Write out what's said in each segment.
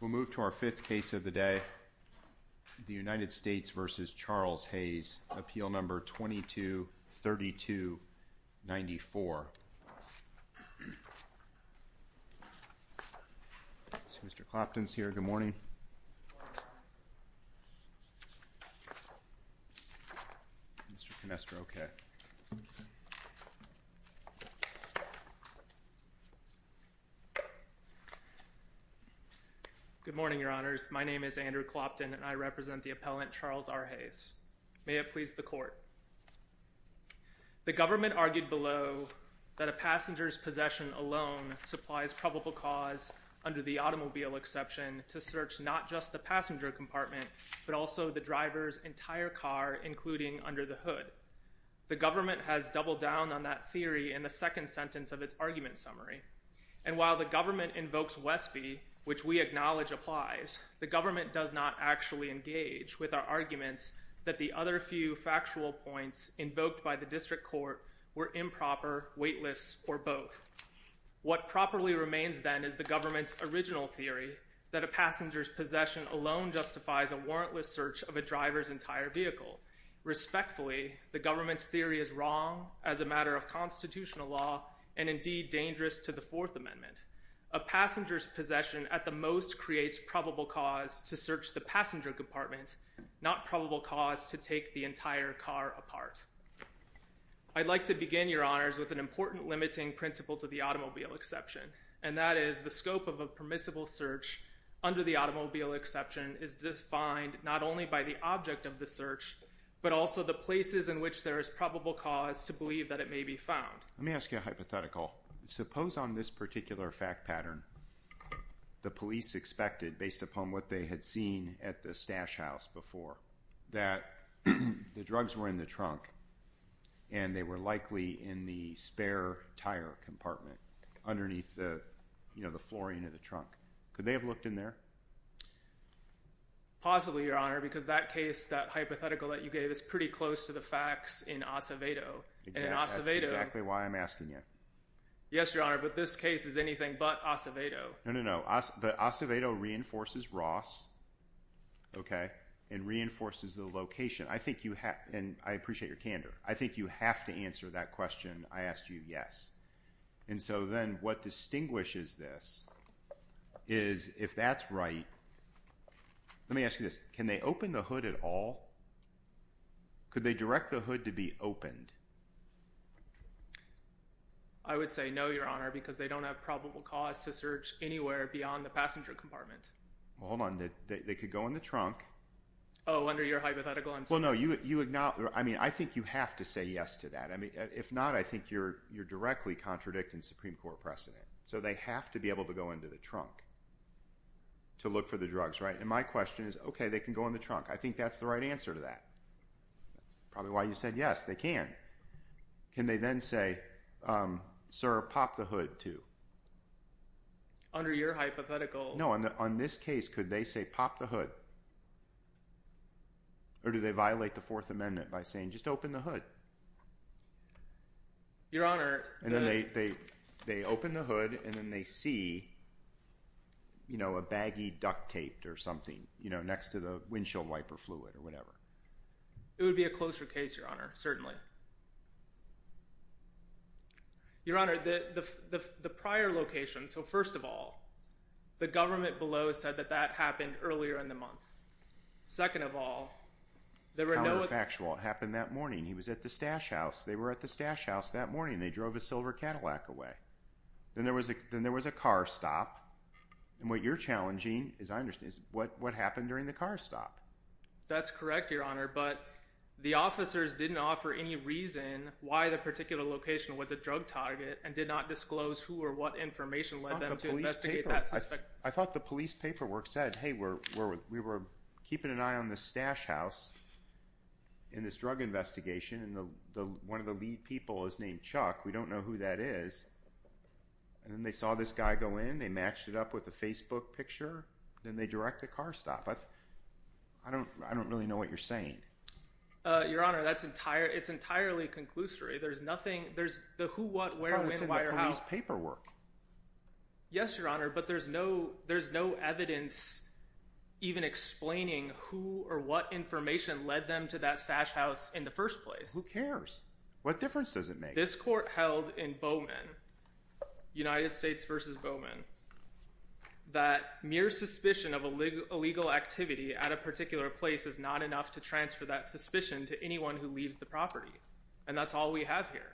We'll move to our fifth case of the day. The United States v. Charles Hays, appeal number 22-32-94. Mr. Clapton's here. Good morning. Mr. Canestra, okay. Good morning, Your Honors. My name is Andrew Clapton, and I represent the appellant Charles R. Hays. May it please the Court. The government argued below that a passenger's possession alone supplies probable cause, under the automobile exception, to search not just the passenger compartment, but also the driver's entire car, including under the hood. The government has doubled down on that theory in the second sentence of its argument summary. And while the government invokes Westby, which we acknowledge applies, the government does not actually engage with our arguments that the other few factual points invoked by the district court were improper, weightless, or both. What properly remains, then, is the government's original theory that a passenger's possession alone justifies a warrantless search of a driver's entire vehicle. Respectfully, the government's theory is wrong as a matter of constitutional law, and indeed dangerous to the Fourth Amendment. A passenger's possession at the most creates probable cause to search the passenger compartment, not probable cause to take the entire car apart. I'd like to begin, Your Honors, with an important limiting principle to the automobile exception, and that is the scope of a permissible search under the automobile exception is defined not only by the object of the search, but also the places in which there is probable cause to believe that it may be found. Let me ask you a hypothetical. Suppose on this particular fact pattern the police expected, based upon what they had seen at the stash house before, that the drugs were in the trunk and they were likely in the spare tire compartment underneath the flooring of the trunk. Could they have looked in there? Possibly, Your Honor, because that case, that hypothetical that you gave, is pretty close to the facts in Acevedo. That's exactly why I'm asking you. Yes, Your Honor, but this case is anything but Acevedo. No, no, no, but Acevedo reinforces Ross, okay, and reinforces the location. I think you have, and I appreciate your candor, I think you have to answer that question I asked you, yes. And so then what distinguishes this is if that's right. Let me ask you this. Can they open the hood at all? Could they direct the hood to be opened? I would say no, Your Honor, because they don't have probable cause to search anywhere beyond the passenger compartment. Well, hold on. They could go in the trunk. Oh, under your hypothetical, I'm sorry. Well, no, I think you have to say yes to that. If not, I think you're directly contradicting Supreme Court precedent. So they have to be able to go into the trunk to look for the drugs, right? And my question is, okay, they can go in the trunk. I think that's the right answer to that. That's probably why you said yes, they can. Can they then say, sir, pop the hood too? Under your hypothetical. No, on this case, could they say pop the hood? Or do they violate the Fourth Amendment by saying just open the hood? Your Honor. And then they open the hood and then they see, you know, a baggie duct taped or something, you know, next to the windshield wiper fluid or whatever. It would be a closer case, Your Honor, certainly. Your Honor, the prior location, so first of all, the government below said that that happened earlier in the month. Second of all, there were no. It's counterfactual. It happened that morning. He was at the stash house. They were at the stash house that morning. They drove a silver Cadillac away. Then there was a car stop. And what you're challenging, as I understand, is what happened during the car stop. That's correct, Your Honor, but the officers didn't offer any reason why the particular location was a drug target and did not disclose who or what information led them to investigate. I thought the police paperwork said, hey, we're, we're, we were keeping an eye on the stash house in this drug investigation. And the, the, one of the lead people is named Chuck. We don't know who that is. And then they saw this guy go in and they matched it up with a Facebook picture. Then they direct the car stop. I don't, I don't really know what you're saying. Your Honor, that's entire. It's entirely conclusory. There's nothing. There's the who, what, where, when, why, or how. I thought it was in the police paperwork. Yes, Your Honor, but there's no, there's no evidence even explaining who or what information led them to that stash house in the first place. Who cares? What difference does it make? This court held in Bowman, United States versus Bowman, that mere suspicion of a legal activity at a particular place is not enough to transfer that suspicion to anyone who leaves the property. And that's all we have here.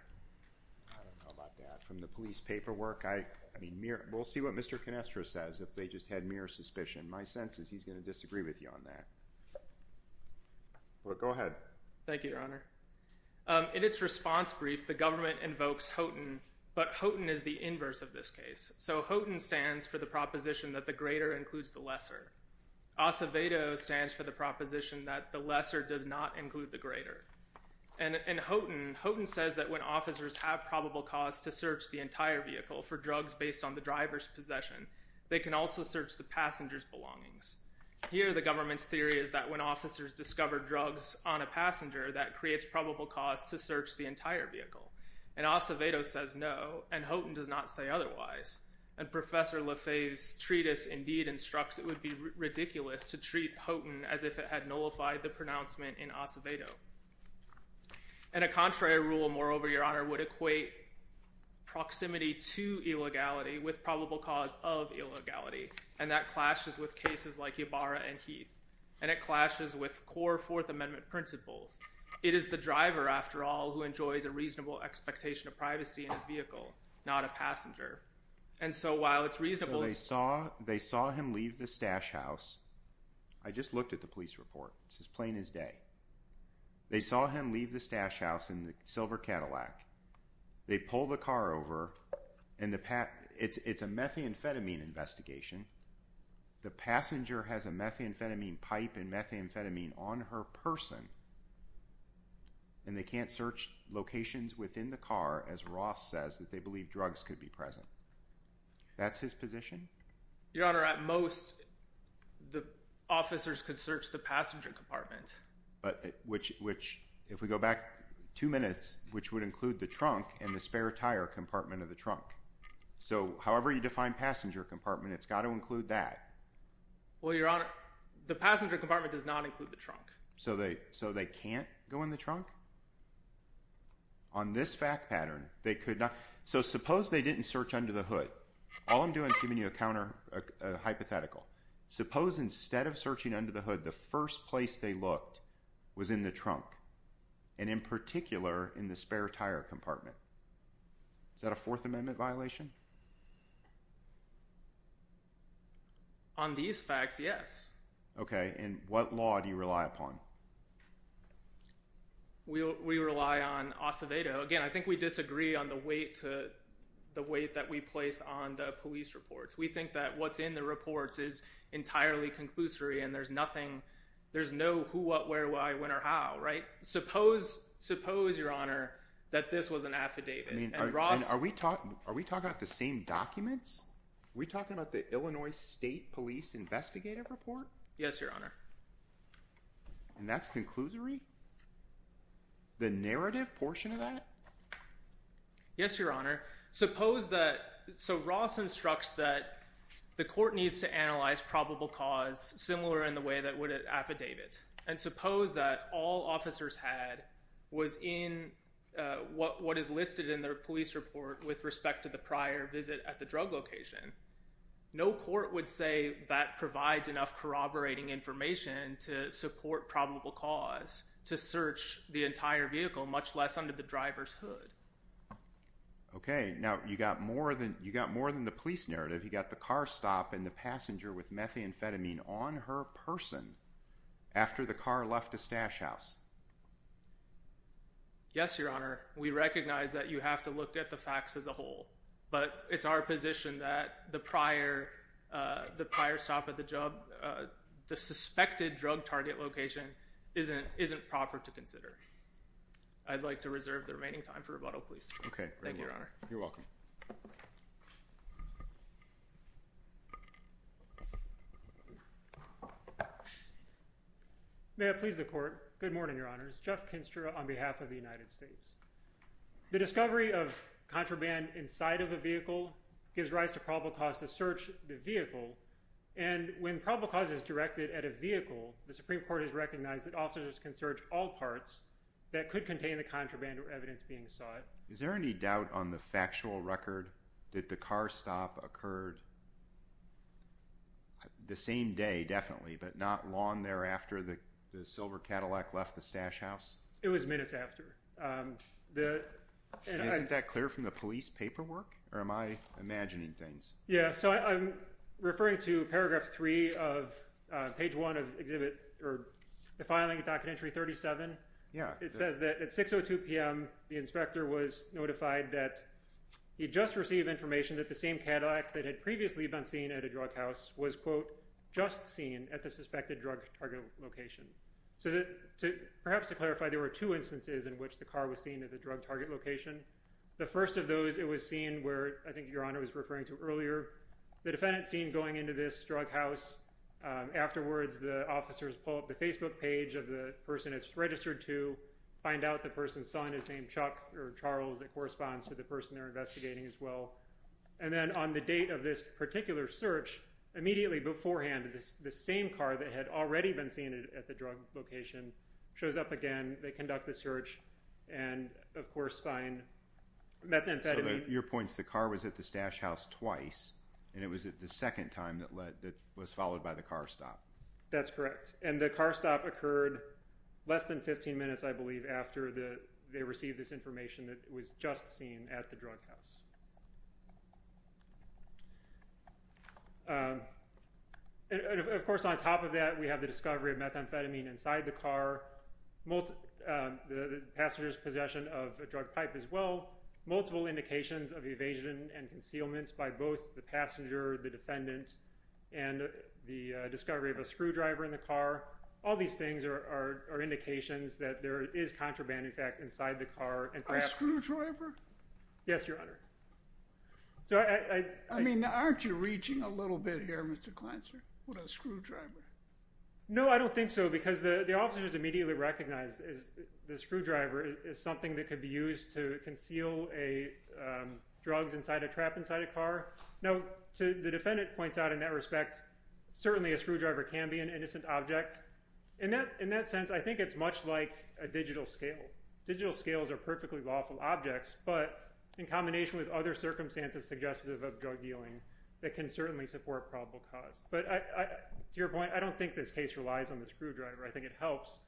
I don't know about that. From the police paperwork, I mean, mere, we'll see what Mr. Canestra says if they just had mere suspicion. My sense is he's going to disagree with you on that. Go ahead. Thank you, Your Honor. In its response brief, the government invokes Houghton, but Houghton is the inverse of this case. So Houghton stands for the proposition that the greater includes the lesser. Acevedo stands for the proposition that the lesser does not include the greater. And Houghton says that when officers have probable cause to search the entire vehicle for drugs based on the driver's possession, they can also search the passenger's belongings. Here the government's theory is that when officers discover drugs on a passenger, that creates probable cause to search the entire vehicle. And Acevedo says no, and Houghton does not say otherwise. And Professor LaFave's treatise indeed instructs it would be ridiculous to treat Houghton as if it had nullified the pronouncement in Acevedo. And a contrary rule, moreover, Your Honor, would equate proximity to illegality with probable cause of illegality. And that clashes with cases like Ybarra and Heath. And it clashes with core Fourth Amendment principles. It is the driver, after all, who enjoys a reasonable expectation of privacy in his vehicle, not a passenger. So they saw him leave the stash house. I just looked at the police report. It's as plain as day. They saw him leave the stash house in the silver Cadillac. They pulled the car over. It's a methamphetamine investigation. The passenger has a methamphetamine pipe and methamphetamine on her person. And they can't search locations within the car, as Ross says, that they believe drugs could be present. That's his position? Your Honor, at most, the officers could search the passenger compartment. Which, if we go back two minutes, which would include the trunk and the spare tire compartment of the trunk. So however you define passenger compartment, it's got to include that. Well, Your Honor, the passenger compartment does not include the trunk. So they can't go in the trunk? On this fact pattern, they could not. So suppose they didn't search under the hood. All I'm doing is giving you a hypothetical. Suppose instead of searching under the hood, the first place they looked was in the trunk, and in particular, in the spare tire compartment. Is that a Fourth Amendment violation? On these facts, yes. Okay, and what law do you rely upon? We rely on Acevedo. Again, I think we disagree on the weight that we place on the police reports. We think that what's in the reports is entirely conclusory, and there's no who, what, where, why, when, or how. Suppose, Your Honor, that this was an affidavit. Are we talking about the same documents? Are we talking about the Illinois State Police Investigative Report? Yes, Your Honor. And that's conclusory? The narrative portion of that? Yes, Your Honor. So Ross instructs that the court needs to analyze probable cause similar in the way that would an affidavit, and suppose that all officers had was in what is listed in their police report with respect to the prior visit at the drug location. No court would say that provides enough corroborating information to support probable cause to search the entire vehicle, much less under the driver's hood. Okay, now you got more than the police narrative. You got the car stop and the passenger with methamphetamine on her person after the car left the stash house. Yes, Your Honor. We recognize that you have to look at the facts as a whole, but it's our position that the prior stop at the job, the suspected drug target location, isn't proper to consider. I'd like to reserve the remaining time for rebuttal, please. Okay. Thank you, Your Honor. You're welcome. May I please the court? Good morning, Your Honors. Jeff Kinstra on behalf of the United States. The discovery of contraband inside of a vehicle gives rise to probable cause to search the vehicle, and when probable cause is directed at a vehicle, the Supreme Court has recognized that officers can search all parts that could contain the contraband or evidence being sought. Is there any doubt on the factual record that the car stop occurred the same day, definitely, but not long thereafter that the silver Cadillac left the stash house? It was minutes after. Isn't that clear from the police paperwork, or am I imagining things? Yes. I'm referring to paragraph 3 of page 1 of the filing, docket entry 37. It says that at 6.02 p.m. the inspector was notified that he'd just received information that the same Cadillac that had previously been seen at a drug house was, quote, just seen at the suspected drug target location. Perhaps to clarify, there were two instances in which the car was seen at the drug target location. The first of those, it was seen where I think Your Honor was referring to earlier. The defendant's seen going into this drug house. Afterwards, the officers pull up the Facebook page of the person it's registered to, find out the person's son is named Chuck or Charles. It corresponds to the person they're investigating as well. And then on the date of this particular search, immediately beforehand, the same car that had already been seen at the drug location shows up again. They conduct the search and, of course, find methamphetamine. So your point is the car was at the stash house twice, and it was the second time that was followed by the car stop. That's correct. And the car stop occurred less than 15 minutes, I believe, after they received this information that it was just seen at the drug house. And, of course, on top of that, we have the discovery of methamphetamine inside the car, the passenger's possession of a drug pipe as well, multiple indications of evasion and concealment by both the passenger, the defendant, and the discovery of a screwdriver in the car. All these things are indications that there is contraband, in fact, inside the car. A screwdriver? Yes, Your Honor. I mean, aren't you reaching a little bit here, Mr. Kleinser, with a screwdriver? No, I don't think so, because the officers immediately recognized the screwdriver is something that could be used to conceal drugs inside a trap inside a car. Now, the defendant points out, in that respect, certainly a screwdriver can be an innocent object. In that sense, I think it's much like a digital scale. Digital scales are perfectly lawful objects, but in combination with other circumstances suggestive of drug dealing, they can certainly support probable cause. But to your point, I don't think this case relies on the screwdriver. I think it helps,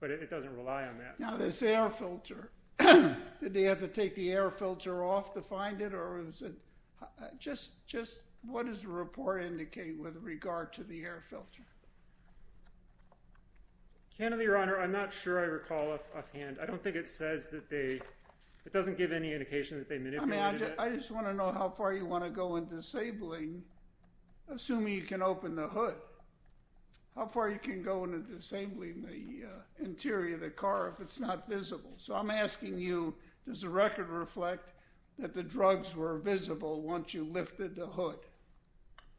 but it doesn't rely on that. Now, this air filter, did they have to take the air filter off to find it? Or was it just what does the report indicate with regard to the air filter? Canada, Your Honor, I'm not sure I recall offhand. I don't think it says that they – it doesn't give any indication that they manipulated it. I mean, I just want to know how far you want to go in disabling, assuming you can open the hood, how far you can go in disabling the interior of the car if it's not visible. So I'm asking you, does the record reflect that the drugs were visible once you lifted the hood?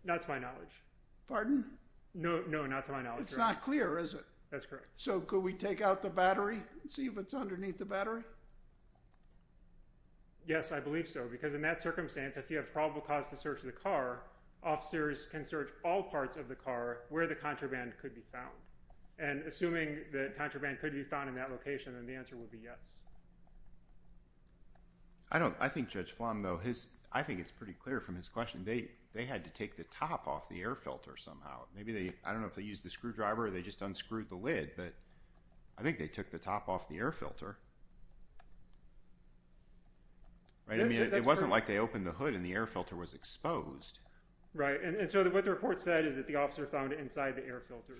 That's my knowledge. Pardon? No, not to my knowledge. It's not clear, is it? That's correct. So could we take out the battery and see if it's underneath the battery? Yes, I believe so because in that circumstance, if you have probable cause to search the car, officers can search all parts of the car where the contraband could be found. And assuming that contraband could be found in that location, then the answer would be yes. I think Judge Flan though, I think it's pretty clear from his question. They had to take the top off the air filter somehow. Maybe they – I don't know if they used the screwdriver or they just unscrewed the lid, but I think they took the top off the air filter. I mean, it wasn't like they opened the hood and the air filter was exposed. Right, and so what the report said is that the officer found it inside the air filter.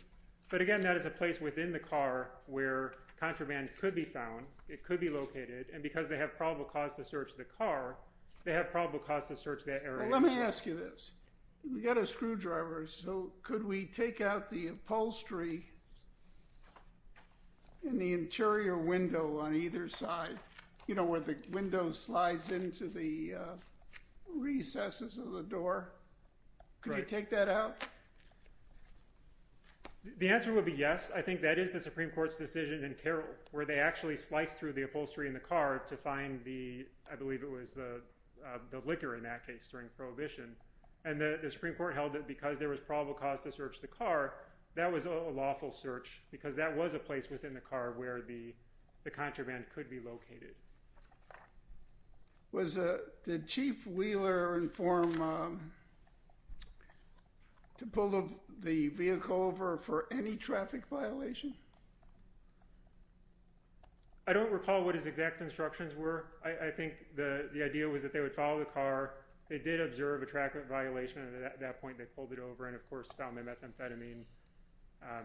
But again, that is a place within the car where contraband could be found. It could be located. And because they have probable cause to search the car, they have probable cause to search that area. Let me ask you this. We've got a screwdriver, so could we take out the upholstery in the interior window on either side, you know, where the window slides into the recesses of the door? Could you take that out? The answer would be yes. I think that is the Supreme Court's decision in Carroll where they actually sliced through the upholstery in the car to find the – I believe it was the liquor in that case during Prohibition. And the Supreme Court held that because there was probable cause to search the car, that was a lawful search because that was a place within the car where the contraband could be located. Did Chief Wheeler inform to pull the vehicle over for any traffic violation? I don't recall what his exact instructions were. I think the idea was that they would follow the car. They did observe a traffic violation, and at that point they pulled it over and, of course, found the methamphetamine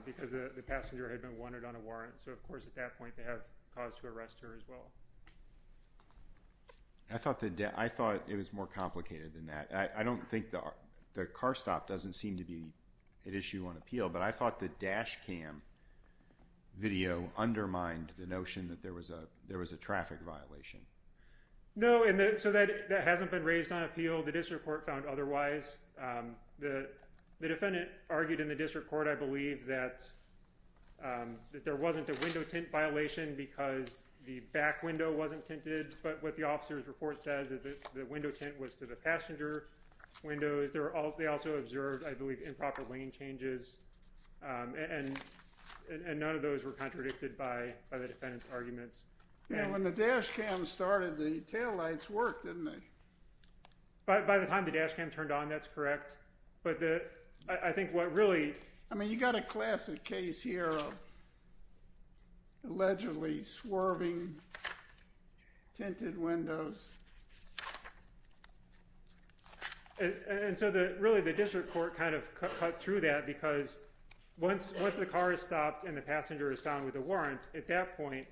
because the passenger had been wanted on a warrant. So, of course, at that point they have cause to arrest her as well. I thought it was more complicated than that. I don't think the car stop doesn't seem to be an issue on appeal, but I thought the dash cam video undermined the notion that there was a traffic violation. No, and so that hasn't been raised on appeal. The district court found otherwise. The defendant argued in the district court, I believe, that there wasn't a window tint violation because the back window wasn't tinted. But what the officer's report says is that the window tint was to the passenger windows. They also observed, I believe, improper lane changes, and none of those were contradicted by the defendant's arguments. Now, when the dash cam started, the taillights worked, didn't they? By the time the dash cam turned on, that's correct. But I think what really— I mean, you've got a classic case here of allegedly swerving tinted windows. And so really the district court kind of cut through that because once the car is stopped and the passenger is found with a warrant, at that point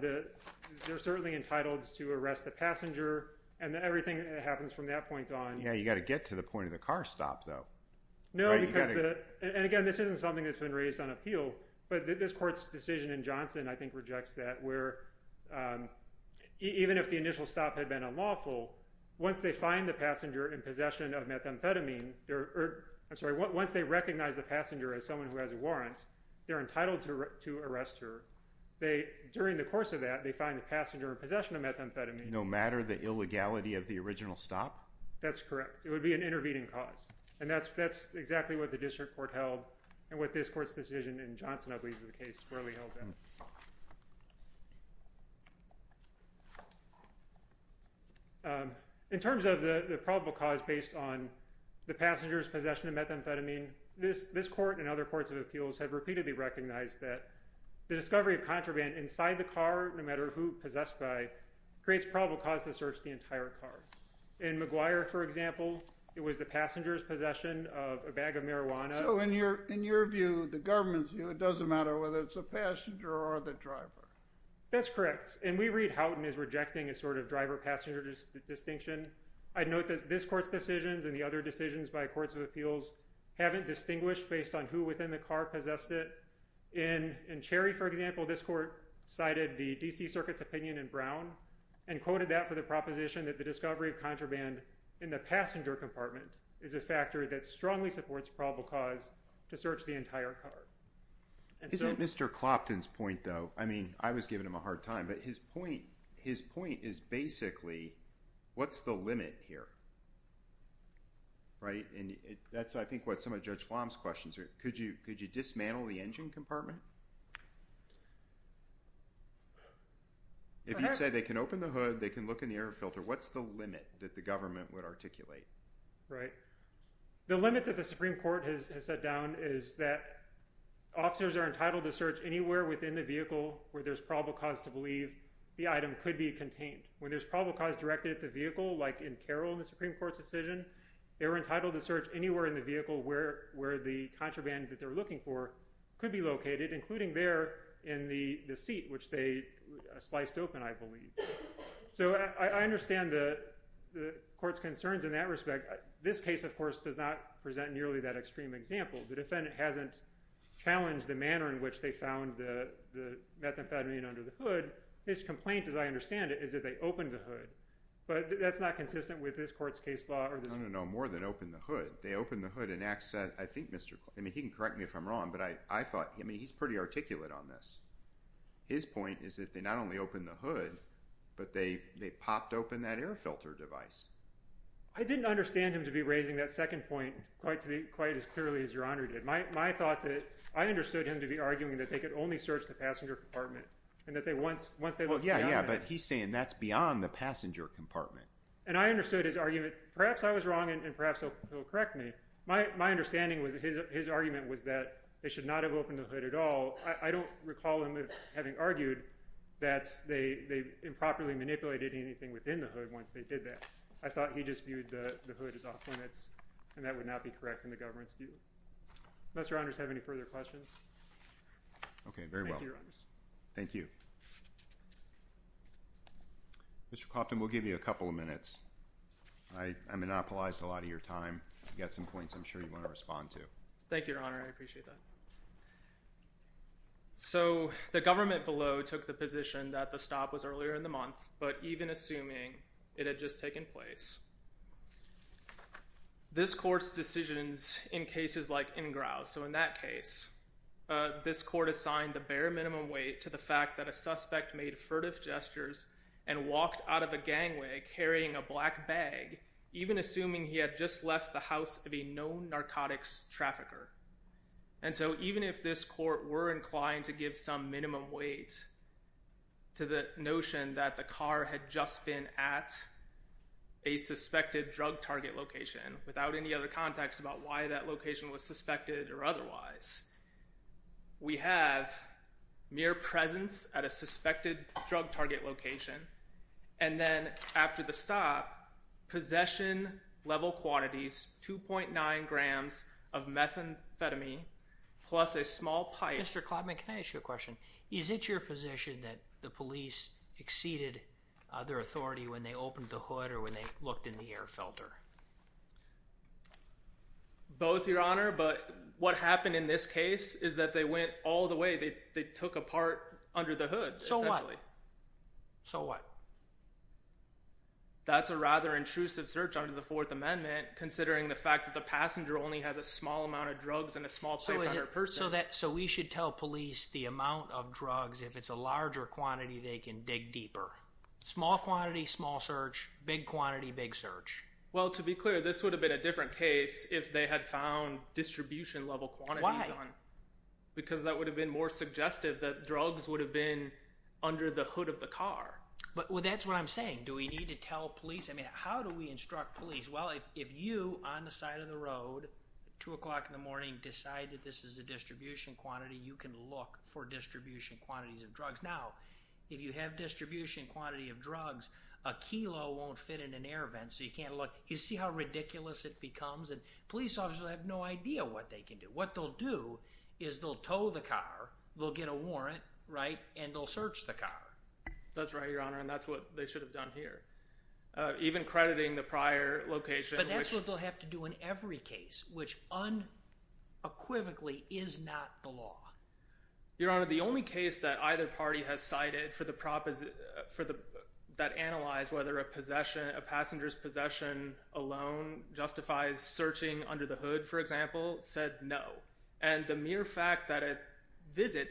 they're certainly entitled to arrest the passenger and everything that happens from that point on— Yeah, you've got to get to the point of the car stop, though. No, and again, this isn't something that's been raised on appeal, but this court's decision in Johnson, I think, rejects that, where even if the initial stop had been unlawful, once they find the passenger in possession of methamphetamine— I'm sorry, once they recognize the passenger as someone who has a warrant, they're entitled to arrest her. During the course of that, they find the passenger in possession of methamphetamine. No matter the illegality of the original stop? That's correct. It would be an intervening cause. And that's exactly what the district court held and what this court's decision in Johnson, I believe, is the case really held in. In terms of the probable cause based on the passenger's possession of methamphetamine, this court and other courts of appeals have repeatedly recognized that the discovery of contraband inside the car, no matter who possessed by, creates probable cause to search the entire car. In McGuire, for example, it was the passenger's possession of a bag of marijuana. So in your view, the government's view, it doesn't matter whether it's the passenger or the driver. That's correct. And we read Houghton as rejecting a sort of driver-passenger distinction. I'd note that this court's decisions and the other decisions by courts of appeals haven't distinguished based on who within the car possessed it. In Cherry, for example, this court cited the D.C. Circuit's opinion in Brown and quoted that for the proposition that the discovery of contraband in the passenger compartment is a factor that strongly supports probable cause to search the entire car. Is it Mr. Clopton's point, though? I mean, I was giving him a hard time, but his point is basically, what's the limit here? And that's, I think, what some of Judge Flom's questions are. Could you dismantle the engine compartment? If you say they can open the hood, they can look in the air filter, what's the limit that the government would articulate? Right. The limit that the Supreme Court has set down is that officers are entitled to search anywhere within the vehicle where there's probable cause to believe the item could be contained. When there's probable cause directed at the vehicle, like in Carroll in the Supreme Court's decision, they were entitled to search anywhere in the vehicle where the contraband that they're looking for could be located, including there in the seat, which they sliced open, I believe. So I understand the court's concerns in that respect. This case, of course, does not present nearly that extreme example. The defendant hasn't challenged the manner in which they found the methamphetamine under the hood. His complaint, as I understand it, is that they opened the hood. But that's not consistent with this court's case law. No, no, no. More than opened the hood. They opened the hood and asked, I think, Mr. – I mean, he can correct me if I'm wrong, but I thought – I mean, he's pretty articulate on this. His point is that they not only opened the hood, but they popped open that air filter device. I didn't understand him to be raising that second point quite as clearly as Your Honor did. My thought that – I understood him to be arguing that they could only search the passenger compartment and that once they looked beyond it – Yeah, yeah, but he's saying that's beyond the passenger compartment. And I understood his argument. Perhaps I was wrong, and perhaps he'll correct me. My understanding was that his argument was that they should not have opened the hood at all. I don't recall him having argued that they improperly manipulated anything within the hood once they did that. I thought he just viewed the hood as off-limits, and that would not be correct in the government's view. Unless Your Honors have any further questions. Okay, very well. Thank you. Mr. Clopton, we'll give you a couple of minutes. I monopolized a lot of your time. You've got some points I'm sure you want to respond to. Thank you, Your Honor. I appreciate that. So, the government below took the position that the stop was earlier in the month, but even assuming it had just taken place. This court's decisions in cases like Ingrao, so in that case, this court assigned the bare minimum weight to the fact that a suspect made furtive gestures and walked out of a gangway carrying a black bag, even assuming he had just left the house of a known narcotics trafficker. And so, even if this court were inclined to give some minimum weight to the notion that the car had just been at a suspected drug target location, without any other context about why that location was suspected or otherwise, we have mere presence at a suspected drug target location, and then after the stop, possession level quantities, 2.9 grams of methamphetamine plus a small pipe. Mr. Clopton, can I ask you a question? Is it your position that the police exceeded their authority when they opened the hood or when they looked in the air filter? Both, Your Honor, but what happened in this case is that they went all the way. They took a part under the hood. So what? So what? That's a rather intrusive search under the Fourth Amendment, considering the fact that the passenger only has a small amount of drugs and a small pipe on her purse. So we should tell police the amount of drugs. If it's a larger quantity, they can dig deeper. Small quantity, small search. Big quantity, big search. Well, to be clear, this would have been a different case if they had found distribution level quantities on it. Because that would have been more suggestive that drugs would have been under the hood of the car. Well, that's what I'm saying. Do we need to tell police? I mean, how do we instruct police? Well, if you, on the side of the road, 2 o'clock in the morning, decide that this is a distribution quantity, you can look for distribution quantities of drugs. Now, if you have distribution quantity of drugs, a kilo won't fit in an air vent, so you can't look. You see how ridiculous it becomes? Police officers have no idea what they can do. What they'll do is they'll tow the car, they'll get a warrant, right, and they'll search the car. That's right, Your Honor, and that's what they should have done here. Even crediting the prior location. But that's what they'll have to do in every case, which unequivocally is not the law. Your Honor, the only case that either party has cited that analyzed whether a passenger's possession alone justifies searching under the hood, for example, said no. And the mere fact that a visit,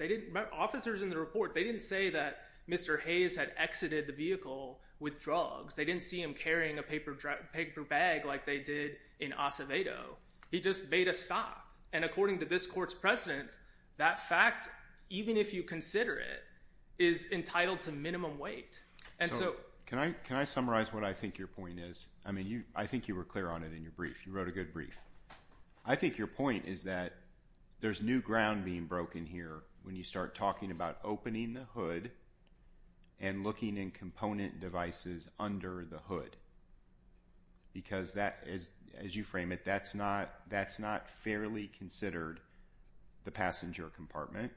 officers in the report, they didn't say that Mr. Hayes had exited the vehicle with drugs. They didn't see him carrying a paper bag like they did in Acevedo. He just made a stop, and according to this court's precedence, that fact, even if you consider it, is entitled to minimum weight. So can I summarize what I think your point is? I mean, I think you were clear on it in your brief. You wrote a good brief. I think your point is that there's new ground being broken here when you start talking about opening the hood and looking in component devices under the hood because that is, as you frame it, that's not fairly considered the passenger compartment.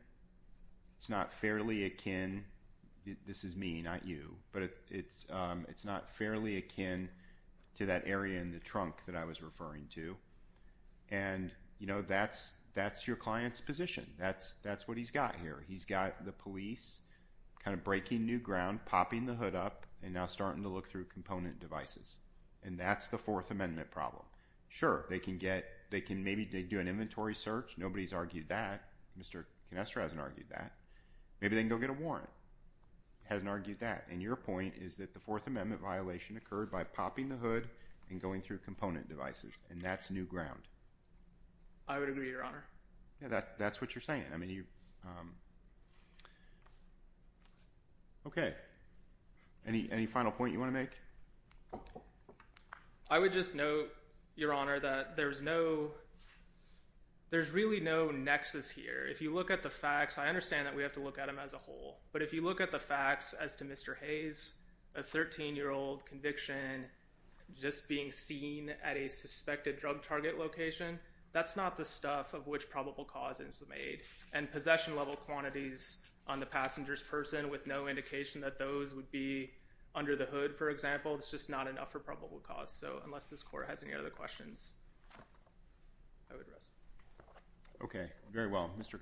It's not fairly akin, this is me, not you, but it's not fairly akin to that area in the trunk that I was referring to, and that's your client's position. That's what he's got here. He's got the police kind of breaking new ground, popping the hood up, and now starting to look through component devices, and that's the Fourth Amendment problem. Sure, they can maybe do an inventory search. Nobody's argued that. Mr. Canestra hasn't argued that. Maybe they can go get a warrant. He hasn't argued that, and your point is that the Fourth Amendment violation occurred by popping the hood and going through component devices, and that's new ground. I would agree, Your Honor. That's what you're saying. Okay, any final point you want to make? I would just note, Your Honor, that there's really no nexus here. If you look at the facts, I understand that we have to look at them as a whole, but if you look at the facts as to Mr. Hayes, a 13-year-old conviction just being seen at a suspected drug target location, that's not the stuff of which probable cause is made, and possession-level quantities on the passenger's person with no indication that those would be under the hood, for example, it's just not enough for probable cause. So unless this Court has any other questions, I would rest. Okay, very well.